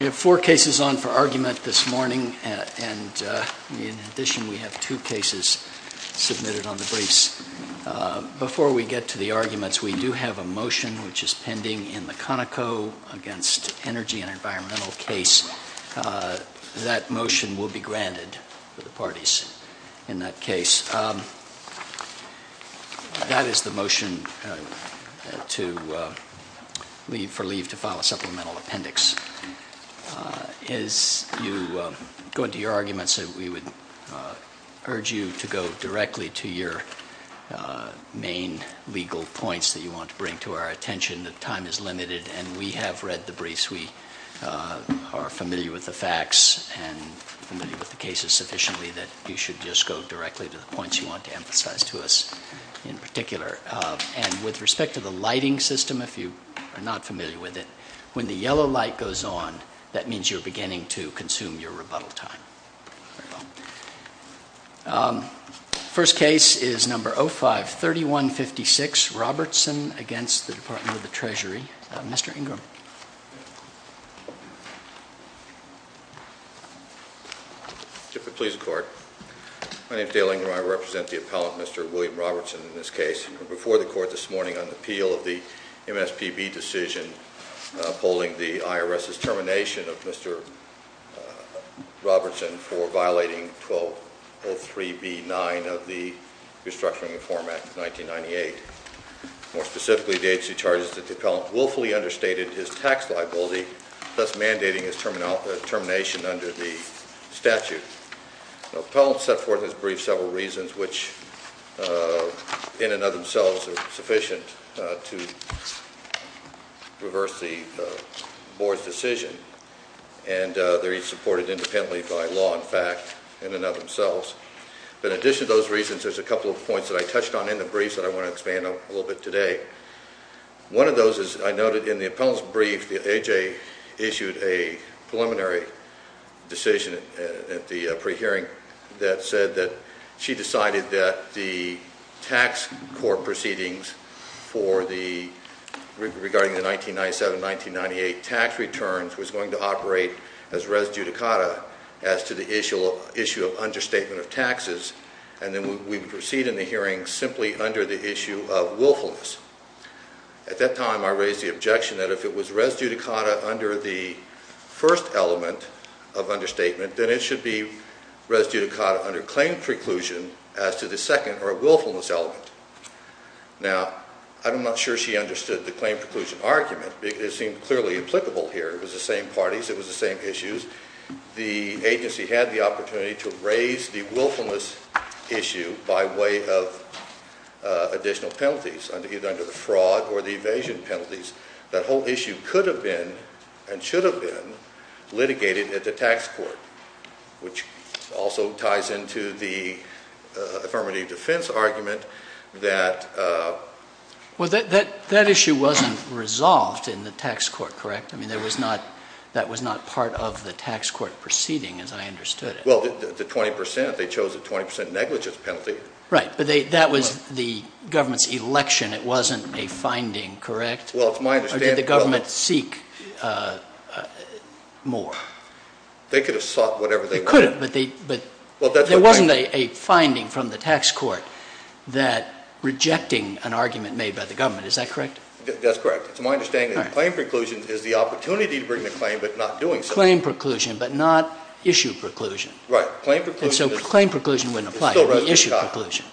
We have four cases on for argument this morning, and in addition we have two cases submitted on the briefs. Before we get to the arguments, we do have a motion which is pending in the Conoco against energy and environmental case. That motion will be granted to the parties in that case. That is the motion for leave to file a supplemental appendix. As you go into your arguments, we would urge you to go directly to your main legal points that you want to bring to our attention. The time is limited, and we have read the briefs. We are familiar with the facts and familiar with the cases sufficiently that you should just go directly to the points you want to emphasize to us in particular. And with respect to the lighting system, if you are not familiar with it, when the yellow light goes on, that means you're beginning to consume your rebuttal time. The first case is number 05-3156, Robertson v. Treasury. Mr. Ingram. If it pleases the Court, my name is Dale Ingram. I represent the appellant, Mr. William Robertson, in this case. I'm before the Court this morning on the appeal of the MSPB decision upholding the IRS's termination of Mr. Robertson for violating 1203b-9 of the Restructuring Reform Act of 1998. More specifically, the HC charges that the appellant willfully understated his tax liability, thus mandating his termination under the statute. The appellant set forth in his brief several reasons which, in and of themselves, are sufficient to reverse the Board's decision. And they're each supported independently by law, in fact, in and of themselves. But in addition to those reasons, there's a couple of points that I touched on in the briefs that I want to expand on a little bit today. One of those is I noted in the appellant's brief that A.J. issued a preliminary decision at the pre-hearing that said that she decided that the tax court proceedings regarding the 1997-1998 tax returns was going to operate as res judicata as to the issue of understatement of taxes, and then we would proceed in the hearing simply under the issue of willfulness. At that time, I raised the objection that if it was res judicata under the first element of understatement, then it should be res judicata under claim preclusion as to the second or willfulness element. Now, I'm not sure she understood the claim preclusion argument. It seemed clearly applicable here. It was the same parties. It was the same issues. The agency had the opportunity to raise the willfulness issue by way of additional penalties, either under the fraud or the evasion penalties. That whole issue could have been and should have been litigated at the tax court, which also ties into the affirmative defense argument that… Well, that issue wasn't resolved in the tax court, correct? I mean, that was not part of the tax court proceeding as I understood it. Well, the 20 percent, they chose a 20 percent negligence penalty. Right, but that was the government's election. It wasn't a finding, correct? Well, it's my understanding… Or did the government seek more? They could have sought whatever they wanted. They could have, but there wasn't a finding from the tax court that rejecting an argument made by the government. Is that correct? That's correct. It's my understanding that claim preclusion is the opportunity to bring the claim but not doing so. Claim preclusion but not issue preclusion. And so claim preclusion wouldn't apply. It's still res judicata. Issue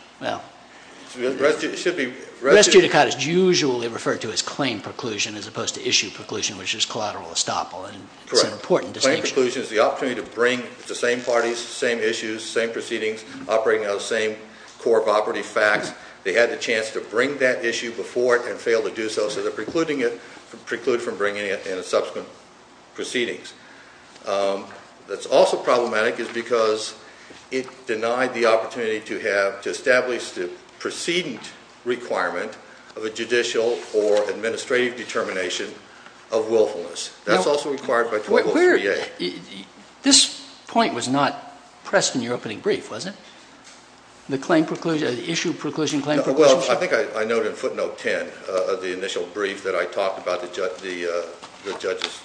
preclusion. Res judicata is usually referred to as claim preclusion as opposed to issue preclusion, which is collateral estoppel. It's an important distinction. Claim preclusion is the opportunity to bring the same parties, same issues, same proceedings, operating out of the same core of operative facts. They had the chance to bring that issue before it and failed to do so, so they're precluding it from bringing it in subsequent proceedings. What's also problematic is because it denied the opportunity to have, to establish the preceding requirement of a judicial or administrative determination of willfulness. That's also required by 2038. This point was not pressed in your opening brief, was it? The claim preclusion, the issue preclusion, claim preclusion? Well, I think I noted in footnote 10 of the initial brief that I talked about the judges,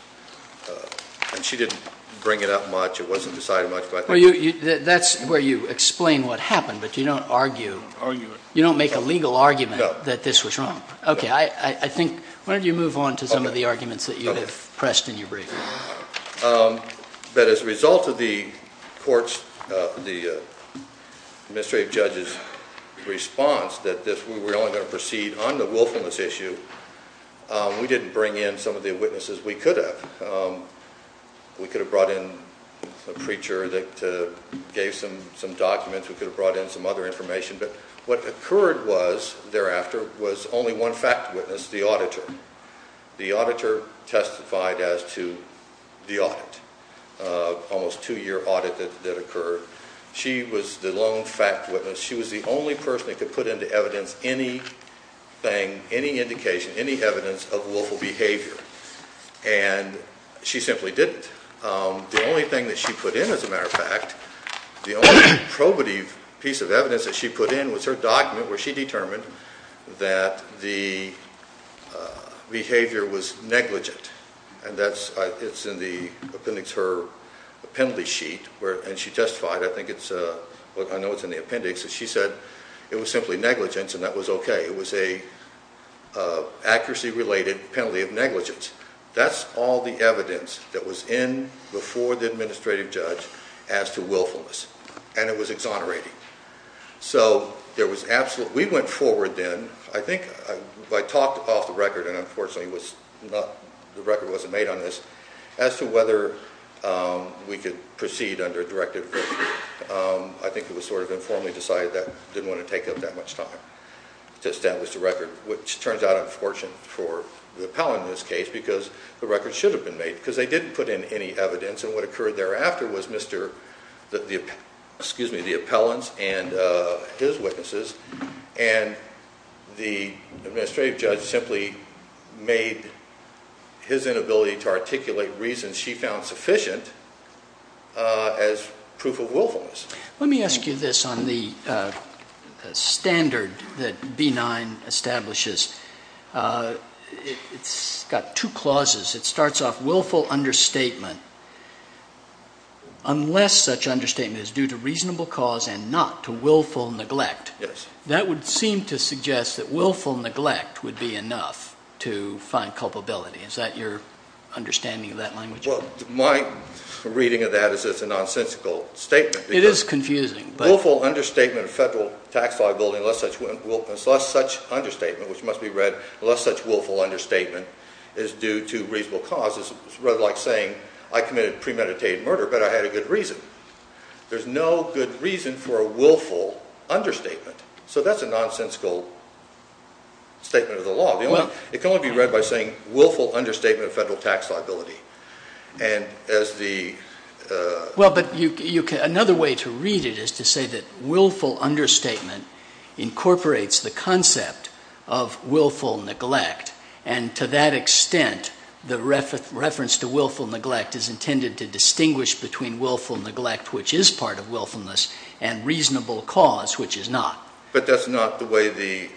and she didn't bring it up much. It wasn't decided much. That's where you explain what happened, but you don't argue. You don't make a legal argument that this was wrong. Okay. I think, why don't you move on to some of the arguments that you have pressed in your brief? But as a result of the court's, the administrative judge's response that we were only going to proceed on the willfulness issue, we didn't bring in some of the witnesses we could have. We could have brought in a preacher that gave some documents. We could have brought in some other information, but what occurred was, thereafter, was only one fact witness, the auditor. The auditor testified as to the audit, almost two-year audit that occurred. She was the lone fact witness. She was the only person that could put into evidence anything, any indication, any evidence of willful behavior, and she simply didn't. The only thing that she put in, as a matter of fact, the only probative piece of evidence that she put in was her document where she determined that the behavior was negligent. It's in the appendix, her penalty sheet, and she testified. I think it's, I know it's in the appendix. She said it was simply negligence, and that was okay. It was an accuracy-related penalty of negligence. That's all the evidence that was in before the administrative judge as to willfulness, and it was exonerating. We went forward then. I think I talked off the record, and unfortunately, the record wasn't made on this, as to whether we could proceed under a directive. I think it was sort of informally decided that we didn't want to take up that much time to establish the record, which turns out unfortunate for the appellant in this case, because the record should have been made, because they didn't put in any evidence, and what occurred thereafter was the appellant's and his witnesses, and the administrative judge simply made his inability to articulate reasons she found sufficient as proof of willfulness. Let me ask you this on the standard that B-9 establishes. It's got two clauses. It starts off willful understatement. Unless such understatement is due to reasonable cause and not to willful neglect, that would seem to suggest that willful neglect would be enough to find culpability. Is that your understanding of that language? Well, my reading of that is it's a nonsensical statement. It is confusing. Willful understatement of federal tax liability unless such understatement, which must be read, unless such willful understatement is due to reasonable cause is rather like saying I committed premeditated murder, but I had a good reason. There's no good reason for a willful understatement, so that's a nonsensical statement of the law. It can only be read by saying willful understatement of federal tax liability. Well, but another way to read it is to say that willful understatement incorporates the concept of willful neglect, and to that extent the reference to willful neglect is intended to distinguish between willful neglect, which is part of willfulness, and reasonable cause, which is not. But that's not the way the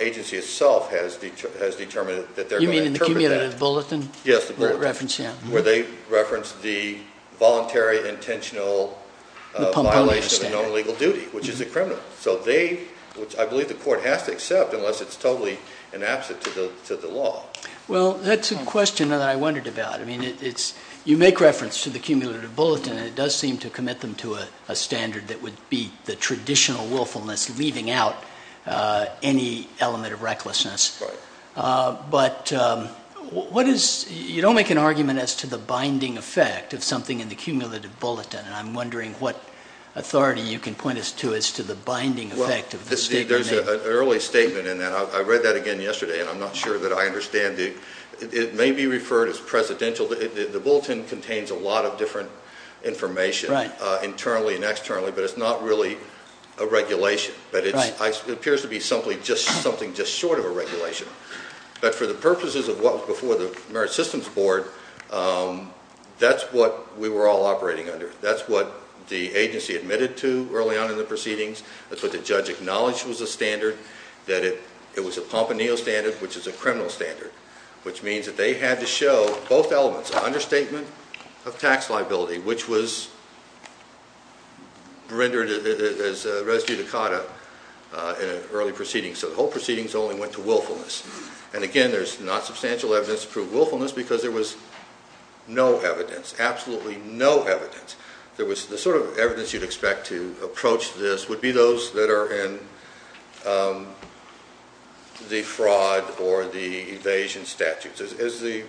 agency itself has determined that they're going to interpret that. The cumulative bulletin? Yes, the bulletin. Where they reference the voluntary, intentional violation of a known legal duty, which is a criminal. So they, which I believe the court has to accept unless it's totally an absent to the law. Well, that's a question that I wondered about. I mean, you make reference to the cumulative bulletin, and it does seem to commit them to a standard that would be the traditional willfulness leaving out any element of recklessness. Right. But what is, you don't make an argument as to the binding effect of something in the cumulative bulletin, and I'm wondering what authority you can point us to as to the binding effect of the statement. Well, there's an early statement in that. I read that again yesterday, and I'm not sure that I understand it. It may be referred as presidential. The bulletin contains a lot of different information internally and externally, but it's not really a regulation. Right. It appears to be something just short of a regulation. But for the purposes of what was before the Merit Systems Board, that's what we were all operating under. That's what the agency admitted to early on in the proceedings. That's what the judge acknowledged was a standard. That it was a pomponio standard, which is a criminal standard, which means that they had to show both elements, an understatement of tax liability, which was rendered as res judicata in an early proceeding. So the whole proceedings only went to willfulness. And again, there's not substantial evidence to prove willfulness because there was no evidence, absolutely no evidence. The sort of evidence you'd expect to approach this would be those that are in the fraud or the evasion statutes. As the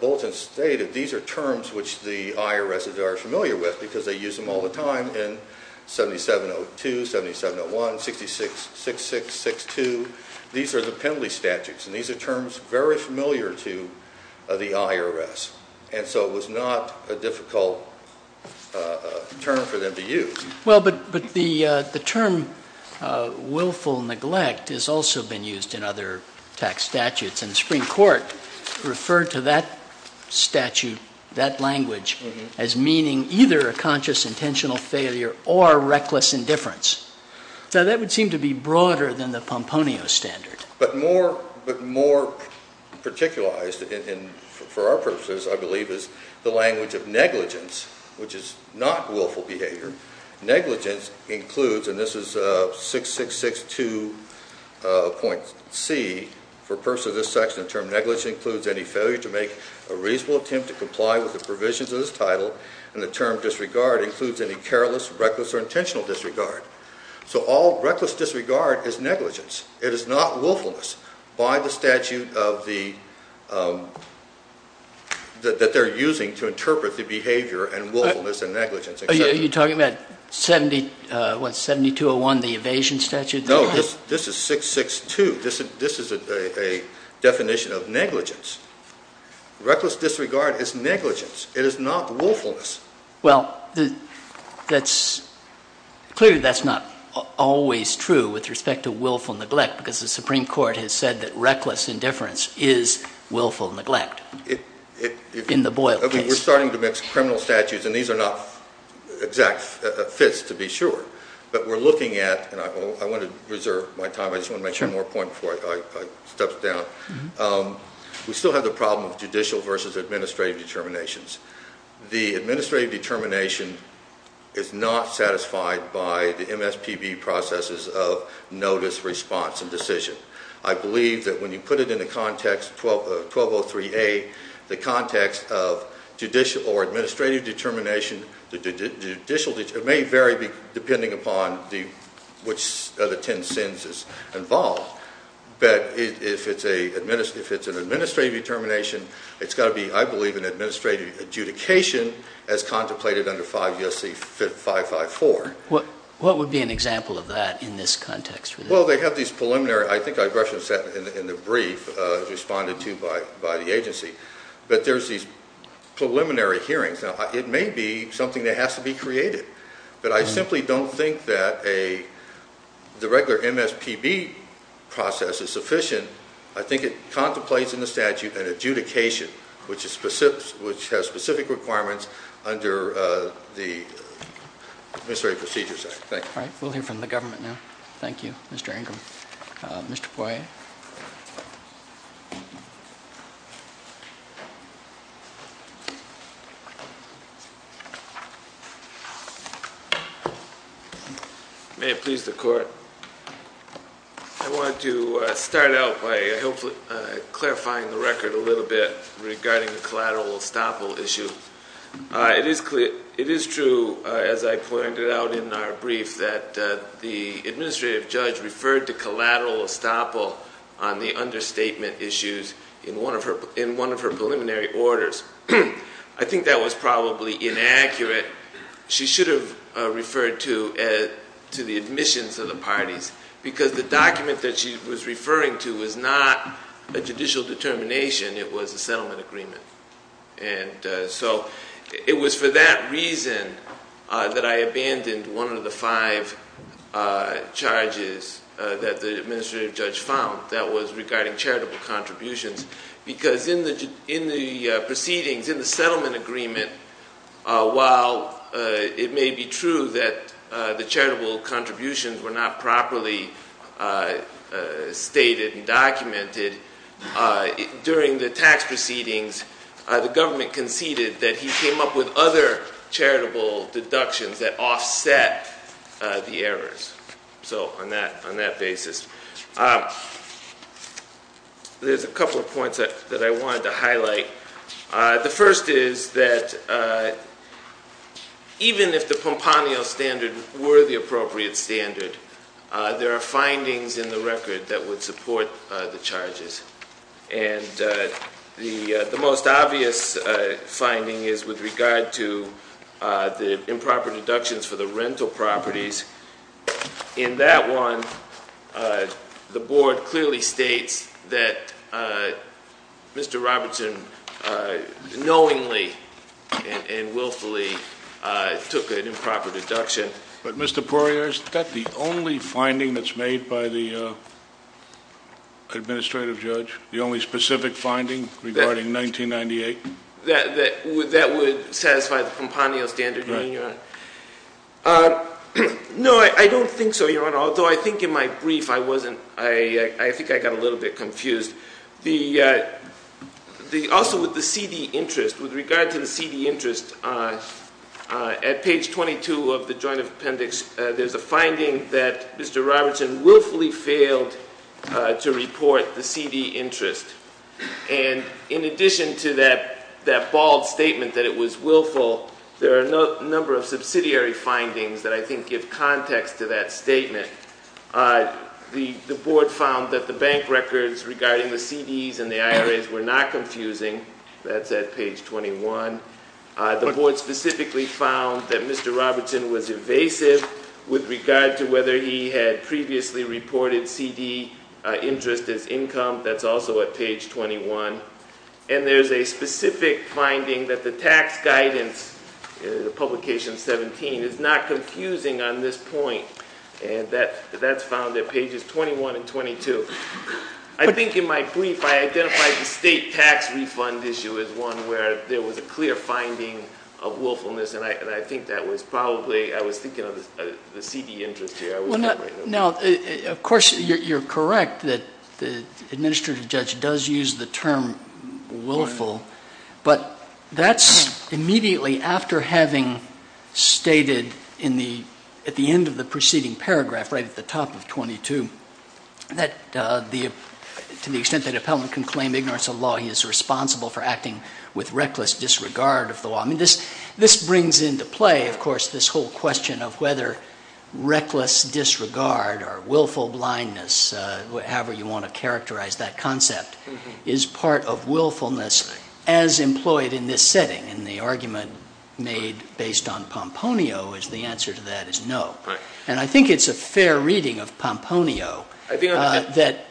bulletin stated, these are terms which the IRS are familiar with because they use them all the time in 7702, 7701, 6666, 6-2. These are the penalty statutes, and these are terms very familiar to the IRS. And so it was not a difficult term for them to use. Well, but the term willful neglect has also been used in other tax statutes. And the Supreme Court referred to that statute, that language, as meaning either a conscious, intentional failure or reckless indifference. Now, that would seem to be broader than the pomponio standard. But more particularized for our purposes, I believe, is the language of negligence, which is not willful behavior. Negligence includes, and this is 6662.C, for purposes of this section, the term negligence includes any failure to make a reasonable attempt to comply with the provisions of this title. And the term disregard includes any careless, reckless, or intentional disregard. So all reckless disregard is negligence. It is not willfulness by the statute that they're using to interpret the behavior and willfulness and negligence. Are you talking about 7201, the evasion statute? No, this is 662. This is a definition of negligence. Reckless disregard is negligence. It is not willfulness. Well, clearly that's not always true with respect to willful neglect because the Supreme Court has said that reckless indifference is willful neglect in the Boyle case. We're starting to mix criminal statutes, and these are not exact fits, to be sure. But we're looking at, and I want to reserve my time. I just want to make sure I'm on point before I step down. We still have the problem of judicial versus administrative determinations. The administrative determination is not satisfied by the MSPB processes of notice, response, and decision. I believe that when you put it in a context, 1203A, the context of judicial or administrative determination, it may vary depending upon which of the ten sins is involved. But if it's an administrative determination, it's got to be, I believe, an administrative adjudication as contemplated under 5 U.S.C. 554. What would be an example of that in this context? Well, they have these preliminary, I think I referenced that in the brief, responded to by the agency. But there's these preliminary hearings. Now, it may be something that has to be created, but I simply don't think that the regular MSPB process is sufficient. I think it contemplates in the statute an adjudication which has specific requirements under the Administrative Procedures Act. Thank you. All right. We'll hear from the government now. Thank you, Mr. Ingram. Mr. Poirier. May it please the Court. I want to start out by hopefully clarifying the record a little bit regarding the collateral estoppel issue. It is true, as I pointed out in our brief, that the administrative judge referred to collateral estoppel on the understatement issues in one of her preliminary orders. I think that was probably inaccurate. She should have referred to the admissions of the parties because the document that she was referring to was not a judicial determination. It was a settlement agreement. And so it was for that reason that I abandoned one of the five charges that the administrative judge found that was regarding charitable contributions. Because in the proceedings, in the settlement agreement, while it may be true that the charitable contributions were not properly stated and documented, during the tax proceedings, the government conceded that he came up with other charitable deductions that offset the errors. So on that basis, there's a couple of points that I wanted to highlight. The first is that even if the Pomponio standard were the appropriate standard, there are findings in the record that would support the charges. And the most obvious finding is with regard to the improper deductions for the rental properties. In that one, the board clearly states that Mr. Robertson knowingly and willfully took an improper deduction. But Mr. Poirier, is that the only finding that's made by the administrative judge? The only specific finding regarding 1998? That would satisfy the Pomponio standard, Your Honor. No, I don't think so, Your Honor. Although I think in my brief I wasn't, I think I got a little bit confused. Also with the CD interest, with regard to the CD interest, at page 22 of the Joint Appendix, there's a finding that Mr. Robertson willfully failed to report the CD interest. And in addition to that bald statement that it was willful, there are a number of subsidiary findings that I think give context to that statement. The board found that the bank records regarding the CDs and the IRAs were not confusing. That's at page 21. The board specifically found that Mr. Robertson was evasive with regard to whether he had previously reported CD interest as income. That's also at page 21. And there's a specific finding that the tax guidance, publication 17, is not confusing on this point. And that's found at pages 21 and 22. I think in my brief I identified the state tax refund issue as one where there was a clear finding of willfulness. And I think that was probably, I was thinking of the CD interest here. Now, of course, you're correct that the administrative judge does use the term willful. But that's immediately after having stated at the end of the preceding paragraph, right at the top of 22, that to the extent that an appellant can claim ignorance of law, he is responsible for acting with reckless disregard of the law. I mean, this brings into play, of course, this whole question of whether reckless disregard or willful blindness, however you want to characterize that concept, is part of willfulness as employed in this setting. And the argument made based on Pomponio is the answer to that is no. And I think it's a fair reading of Pomponio that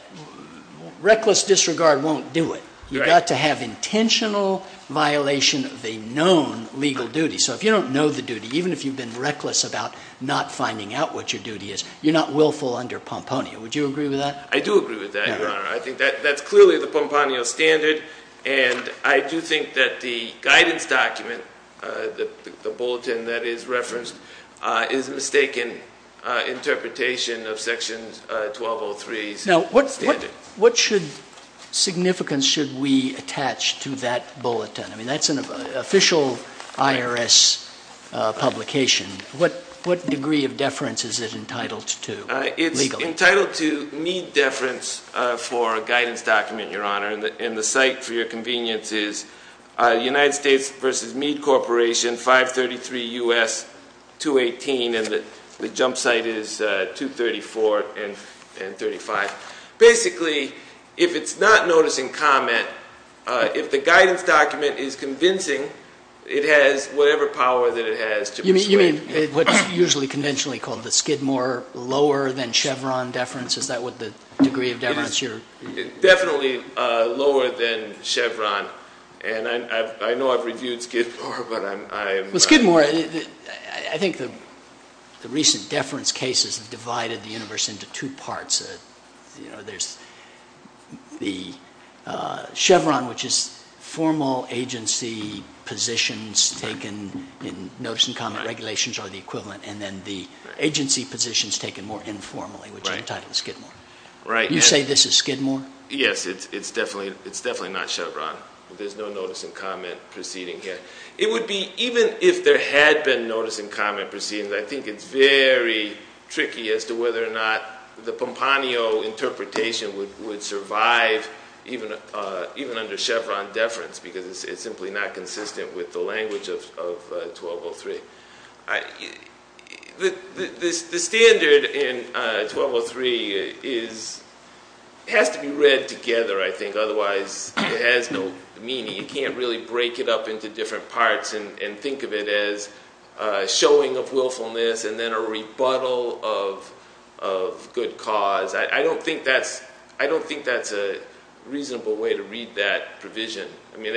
reckless disregard won't do it. You've got to have intentional violation of a known legal duty. So if you don't know the duty, even if you've been reckless about not finding out what your duty is, you're not willful under Pomponio. Would you agree with that? I do agree with that, Your Honor. I think that's clearly the Pomponio standard. And I do think that the guidance document, the bulletin that is referenced, is a mistaken interpretation of Section 1203's standard. Now, what significance should we attach to that bulletin? I mean, that's an official IRS publication. What degree of deference is it entitled to legally? It's entitled to Meade deference for a guidance document, Your Honor. And the site for your convenience is United States versus Meade Corporation, 533 U.S., 218. And the jump site is 234 and 35. Basically, if it's not noticing comment, if the guidance document is convincing, it has whatever power that it has to persuade. You mean what's usually conventionally called the Skidmore lower than Chevron deference? Is that what the degree of deference is? Definitely lower than Chevron. And I know I've reviewed Skidmore, but I'm not sure. Well, Skidmore, I think the recent deference cases have divided the universe into two parts. You know, there's the Chevron, which is formal agency positions taken in notice and comment regulations are the equivalent, and then the agency positions taken more informally, which are entitled Skidmore. Right. You say this is Skidmore? Yes, it's definitely not Chevron. There's no notice and comment proceeding here. It would be, even if there had been notice and comment proceedings, I think it's very tricky as to whether or not the Pompano interpretation would survive even under Chevron deference because it's simply not consistent with the language of 1203. The standard in 1203 has to be read together, I think. Otherwise, it has no meaning. You can't really break it up into different parts and think of it as showing of willfulness and then a rebuttal of good cause. I don't think that's a reasonable way to read that provision. I mean,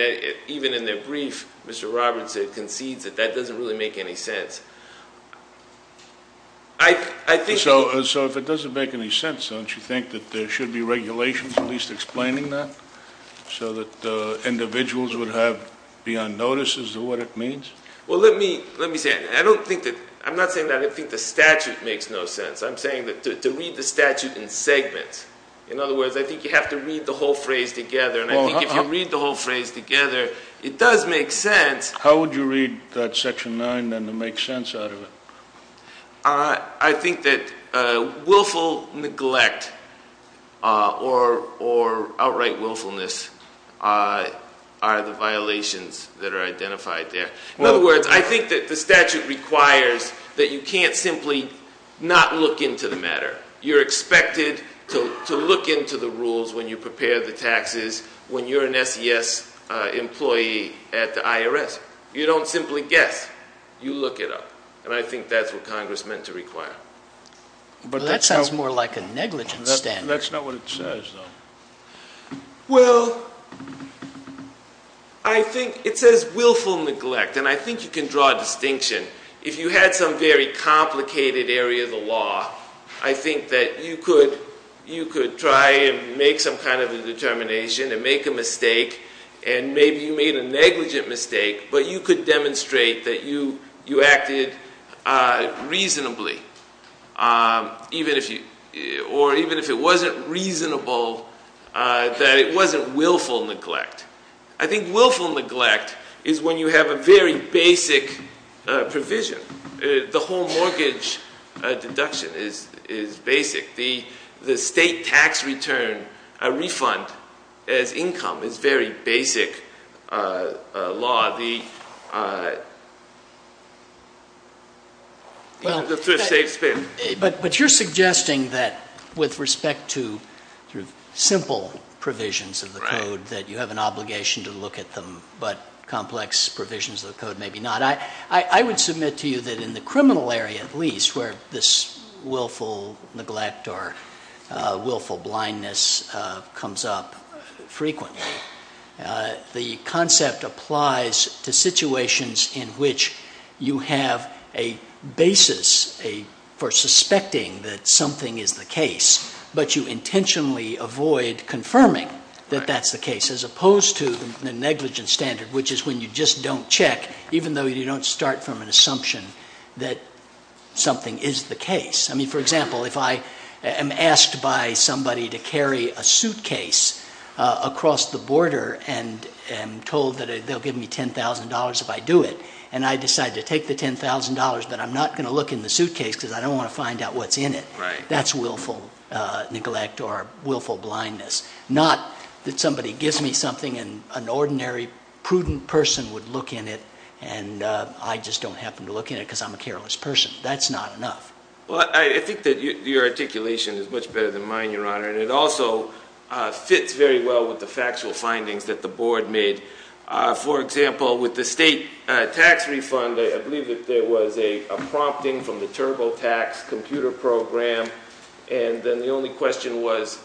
even in the brief, Mr. Robertson concedes that that doesn't really make any sense. So if it doesn't make any sense, don't you think that there should be regulations at least explaining that so that individuals would be on notice as to what it means? Well, let me say it. I'm not saying that I think the statute makes no sense. I'm saying to read the statute in segments. In other words, I think you have to read the whole phrase together. And I think if you read the whole phrase together, it does make sense. How would you read that Section 9 then to make sense out of it? I think that willful neglect or outright willfulness are the violations that are identified there. In other words, I think that the statute requires that you can't simply not look into the matter. You're expected to look into the rules when you prepare the taxes when you're an SES employee at the IRS. You don't simply guess. You look it up. And I think that's what Congress meant to require. That sounds more like a negligence statute. That's not what it says, though. Well, I think it says willful neglect. And I think you can draw a distinction. If you had some very complicated area of the law, I think that you could try and make some kind of a determination and make a mistake. And maybe you made a negligent mistake, but you could demonstrate that you acted reasonably. Or even if it wasn't reasonable, that it wasn't willful neglect. I think willful neglect is when you have a very basic provision. The whole mortgage deduction is basic. The state tax return refund as income is very basic law. But you're suggesting that with respect to simple provisions of the code that you have an obligation to look at them, but complex provisions of the code maybe not. I would submit to you that in the criminal area at least where this willful neglect or willful blindness comes up frequently, the concept applies to situations in which you have a basis for suspecting that something is the case, but you intentionally avoid confirming that that's the case as opposed to the negligence standard, which is when you just don't check even though you don't start from an assumption that something is the case. I mean, for example, if I am asked by somebody to carry a suitcase across the border and told that they'll give me $10,000 if I do it, and I decide to take the $10,000 but I'm not going to look in the suitcase because I don't want to find out what's in it, that's willful neglect or willful blindness. Not that somebody gives me something and an ordinary prudent person would look in it and I just don't happen to look in it because I'm a careless person. That's not enough. Well, I think that your articulation is much better than mine, Your Honor, and it also fits very well with the factual findings that the Board made. For example, with the state tax refund, I believe that there was a prompting from the TurboTax computer program, and then the only question was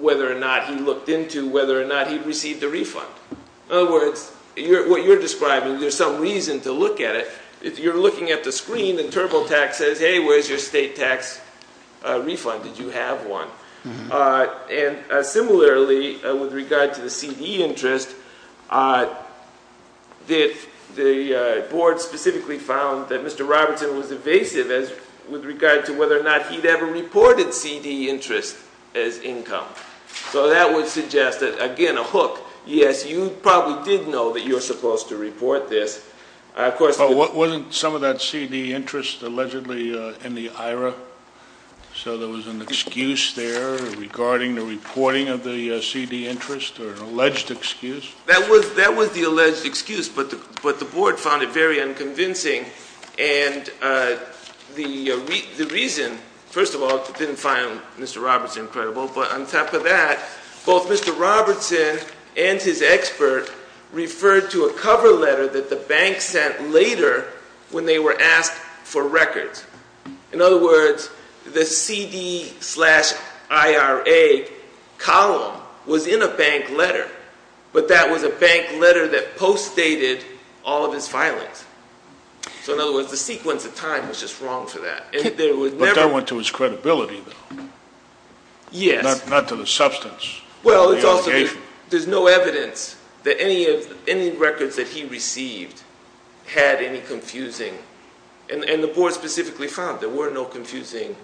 whether or not he looked into whether or not he received a refund. In other words, what you're describing, there's some reason to look at it. You're looking at the screen and TurboTax says, hey, where's your state tax refund? Did you have one? And similarly, with regard to the CD interest, the Board specifically found that Mr. Robertson was evasive with regard to whether or not he'd ever reported CD interest as income. So that would suggest that, again, a hook. Yes, you probably did know that you were supposed to report this. But wasn't some of that CD interest allegedly in the IRA? So there was an excuse there regarding the reporting of the CD interest or an alleged excuse? That was the alleged excuse, but the Board found it very unconvincing. And the reason, first of all, it didn't find Mr. Robertson credible, but on top of that, both Mr. Robertson and his expert referred to a cover letter that the bank sent later when they were asked for records. In other words, the CD slash IRA column was in a bank letter, but that was a bank letter that postdated all of his filings. So in other words, the sequence of time was just wrong for that. But that went to his credibility, though. Yes. Not to the substance. Well, there's no evidence that any records that he received had any confusing and the Board specifically found there were no confusing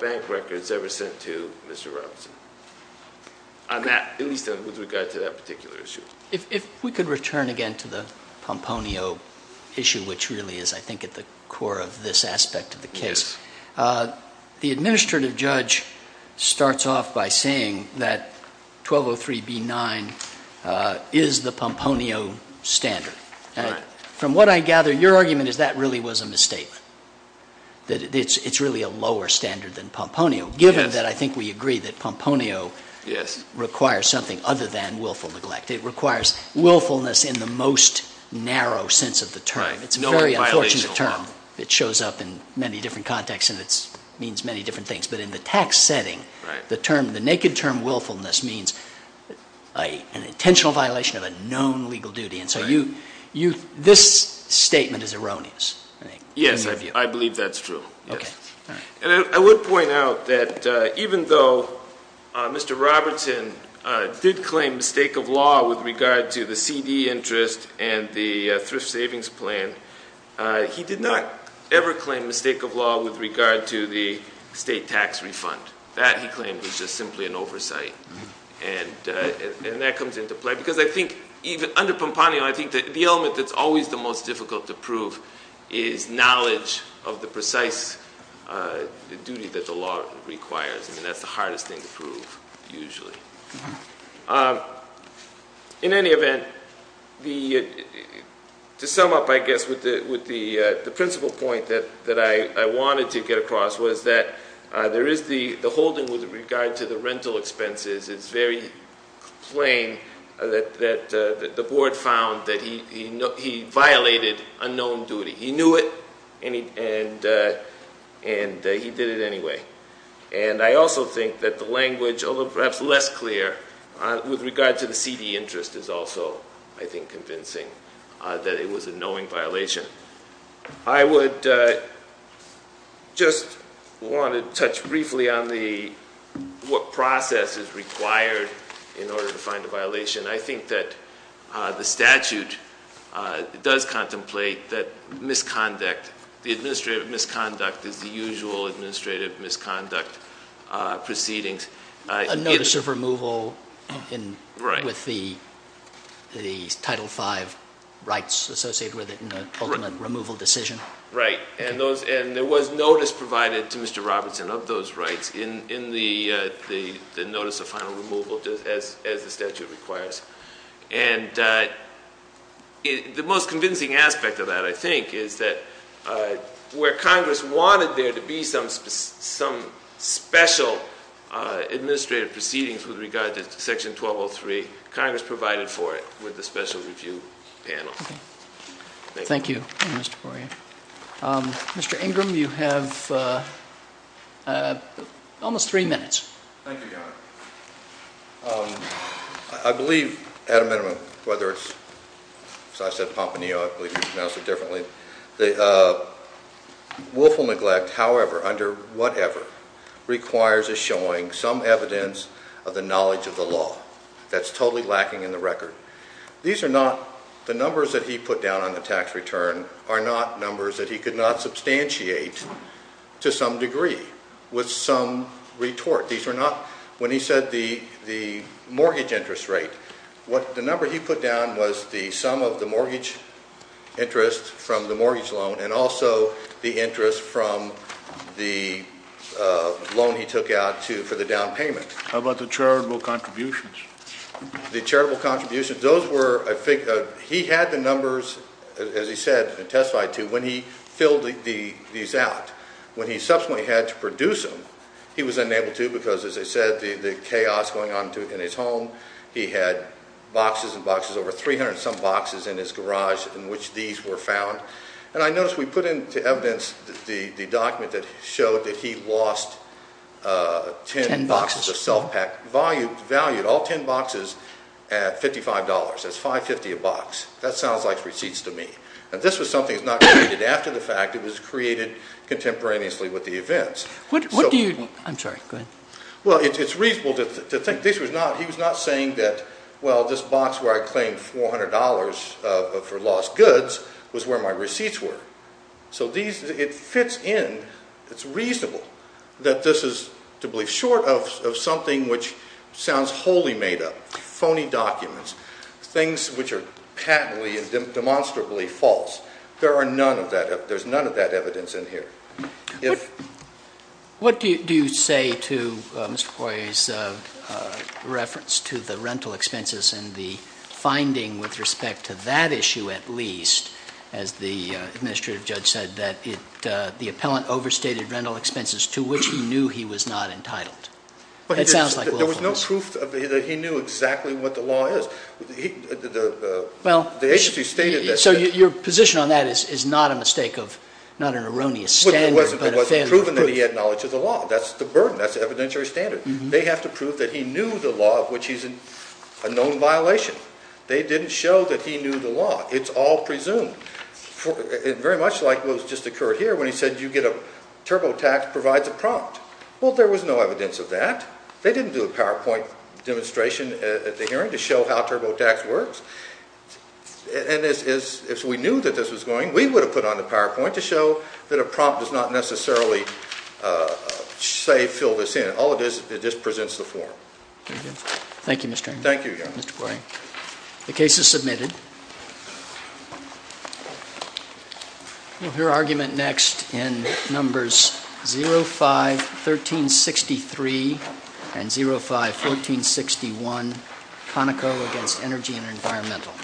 bank records ever sent to Mr. Robertson, at least with regard to that particular issue. If we could return again to the Pomponio issue, which really is, I think, at the core of this aspect of the case. Yes. The administrative judge starts off by saying that 1203B9 is the Pomponio standard. From what I gather, your argument is that really was a misstatement, that it's really a lower standard than Pomponio, given that I think we agree that Pomponio requires something other than willful neglect. It requires willfulness in the most narrow sense of the term. It's a very unfortunate term. It shows up in many different contexts, and it means many different things. But in the tax setting, the naked term willfulness means an intentional violation of a known legal duty. And so this statement is erroneous. Yes, I believe that's true. And I would point out that even though Mr. Robertson did claim mistake of law with regard to the CD interest and the thrift savings plan, he did not ever claim mistake of law with regard to the state tax refund. That, he claimed, was just simply an oversight, and that comes into play. Because I think under Pomponio, I think the element that's always the most difficult to prove is knowledge of the precise duty that the law requires. I mean, that's the hardest thing to prove, usually. In any event, to sum up, I guess, with the principal point that I wanted to get across was that there is the holding with regard to the rental expenses. It's very plain that the board found that he violated a known duty. He knew it, and he did it anyway. And I also think that the language, although perhaps less clear, with regard to the CD interest is also, I think, convincing that it was a knowing violation. I would just want to touch briefly on what process is required in order to find a violation. I think that the statute does contemplate that misconduct, the administrative misconduct, is the usual administrative misconduct proceedings. A notice of removal with the Title V rights associated with it in the ultimate removal decision? Right, and there was notice provided to Mr. Robertson of those rights in the notice of final removal as the statute requires. And the most convincing aspect of that, I think, is that where Congress wanted there to be some special administrative proceedings with regard to Section 1203, Congress provided for it with the special review panel. Thank you, Mr. Correa. Mr. Ingram, you have almost three minutes. Thank you, Your Honor. I believe, at a minimum, whether it's, as I said, Pomponio, I believe he pronounced it differently, that willful neglect, however, under whatever, requires a showing, some evidence of the knowledge of the law. That's totally lacking in the record. These are not, the numbers that he put down on the tax return are not numbers that he could not substantiate to some degree with some retort. These are not, when he said the mortgage interest rate, the number he put down was the sum of the mortgage interest from the mortgage loan and also the interest from the loan he took out for the down payment. How about the charitable contributions? The charitable contributions, those were, I think, he had the numbers, as he said, testified to when he filled these out. When he subsequently had to produce them, he was unable to because, as I said, the chaos going on in his home. He had boxes and boxes, over 300 and some boxes in his garage in which these were found. And I noticed we put into evidence the document that showed that he lost 10 boxes of self-packed, valued all 10 boxes at $55. That's $5.50 a box. That sounds like receipts to me. And this was something that was not created after the fact. It was created contemporaneously with the events. What do you, I'm sorry, go ahead. Well, it's reasonable to think this was not, he was not saying that, well, this box where I claimed $400 for lost goods was where my receipts were. So these, it fits in, it's reasonable that this is to be short of something which sounds wholly made up, phony documents, things which are patently and demonstrably false. There are none of that, there's none of that evidence in here. What do you say to Mr. Poirier's reference to the rental expenses and the finding with respect to that issue at least, as the administrative judge said, that the appellant overstated rental expenses to which he knew he was not entitled? It sounds like willfulness. There was no proof that he knew exactly what the law is. The agency stated that. So your position on that is not a mistake of, not an erroneous standard. It wasn't proven that he had knowledge of the law. That's the burden, that's the evidentiary standard. They have to prove that he knew the law of which he's in a known violation. They didn't show that he knew the law. It's all presumed. Very much like what just occurred here when he said you get a, TurboTax provides a prompt. Well, there was no evidence of that. They didn't do a PowerPoint demonstration at the hearing to show how TurboTax works. And as we knew that this was going, we would have put on the PowerPoint to show that a prompt does not necessarily say fill this in. All it is, it just presents the form. Thank you, Mr. Henry. Thank you, Your Honor. Mr. Poirier. The case is submitted. We'll hear argument next in numbers 05-1363 and 05-1461, Conoco against Energy and Environmental.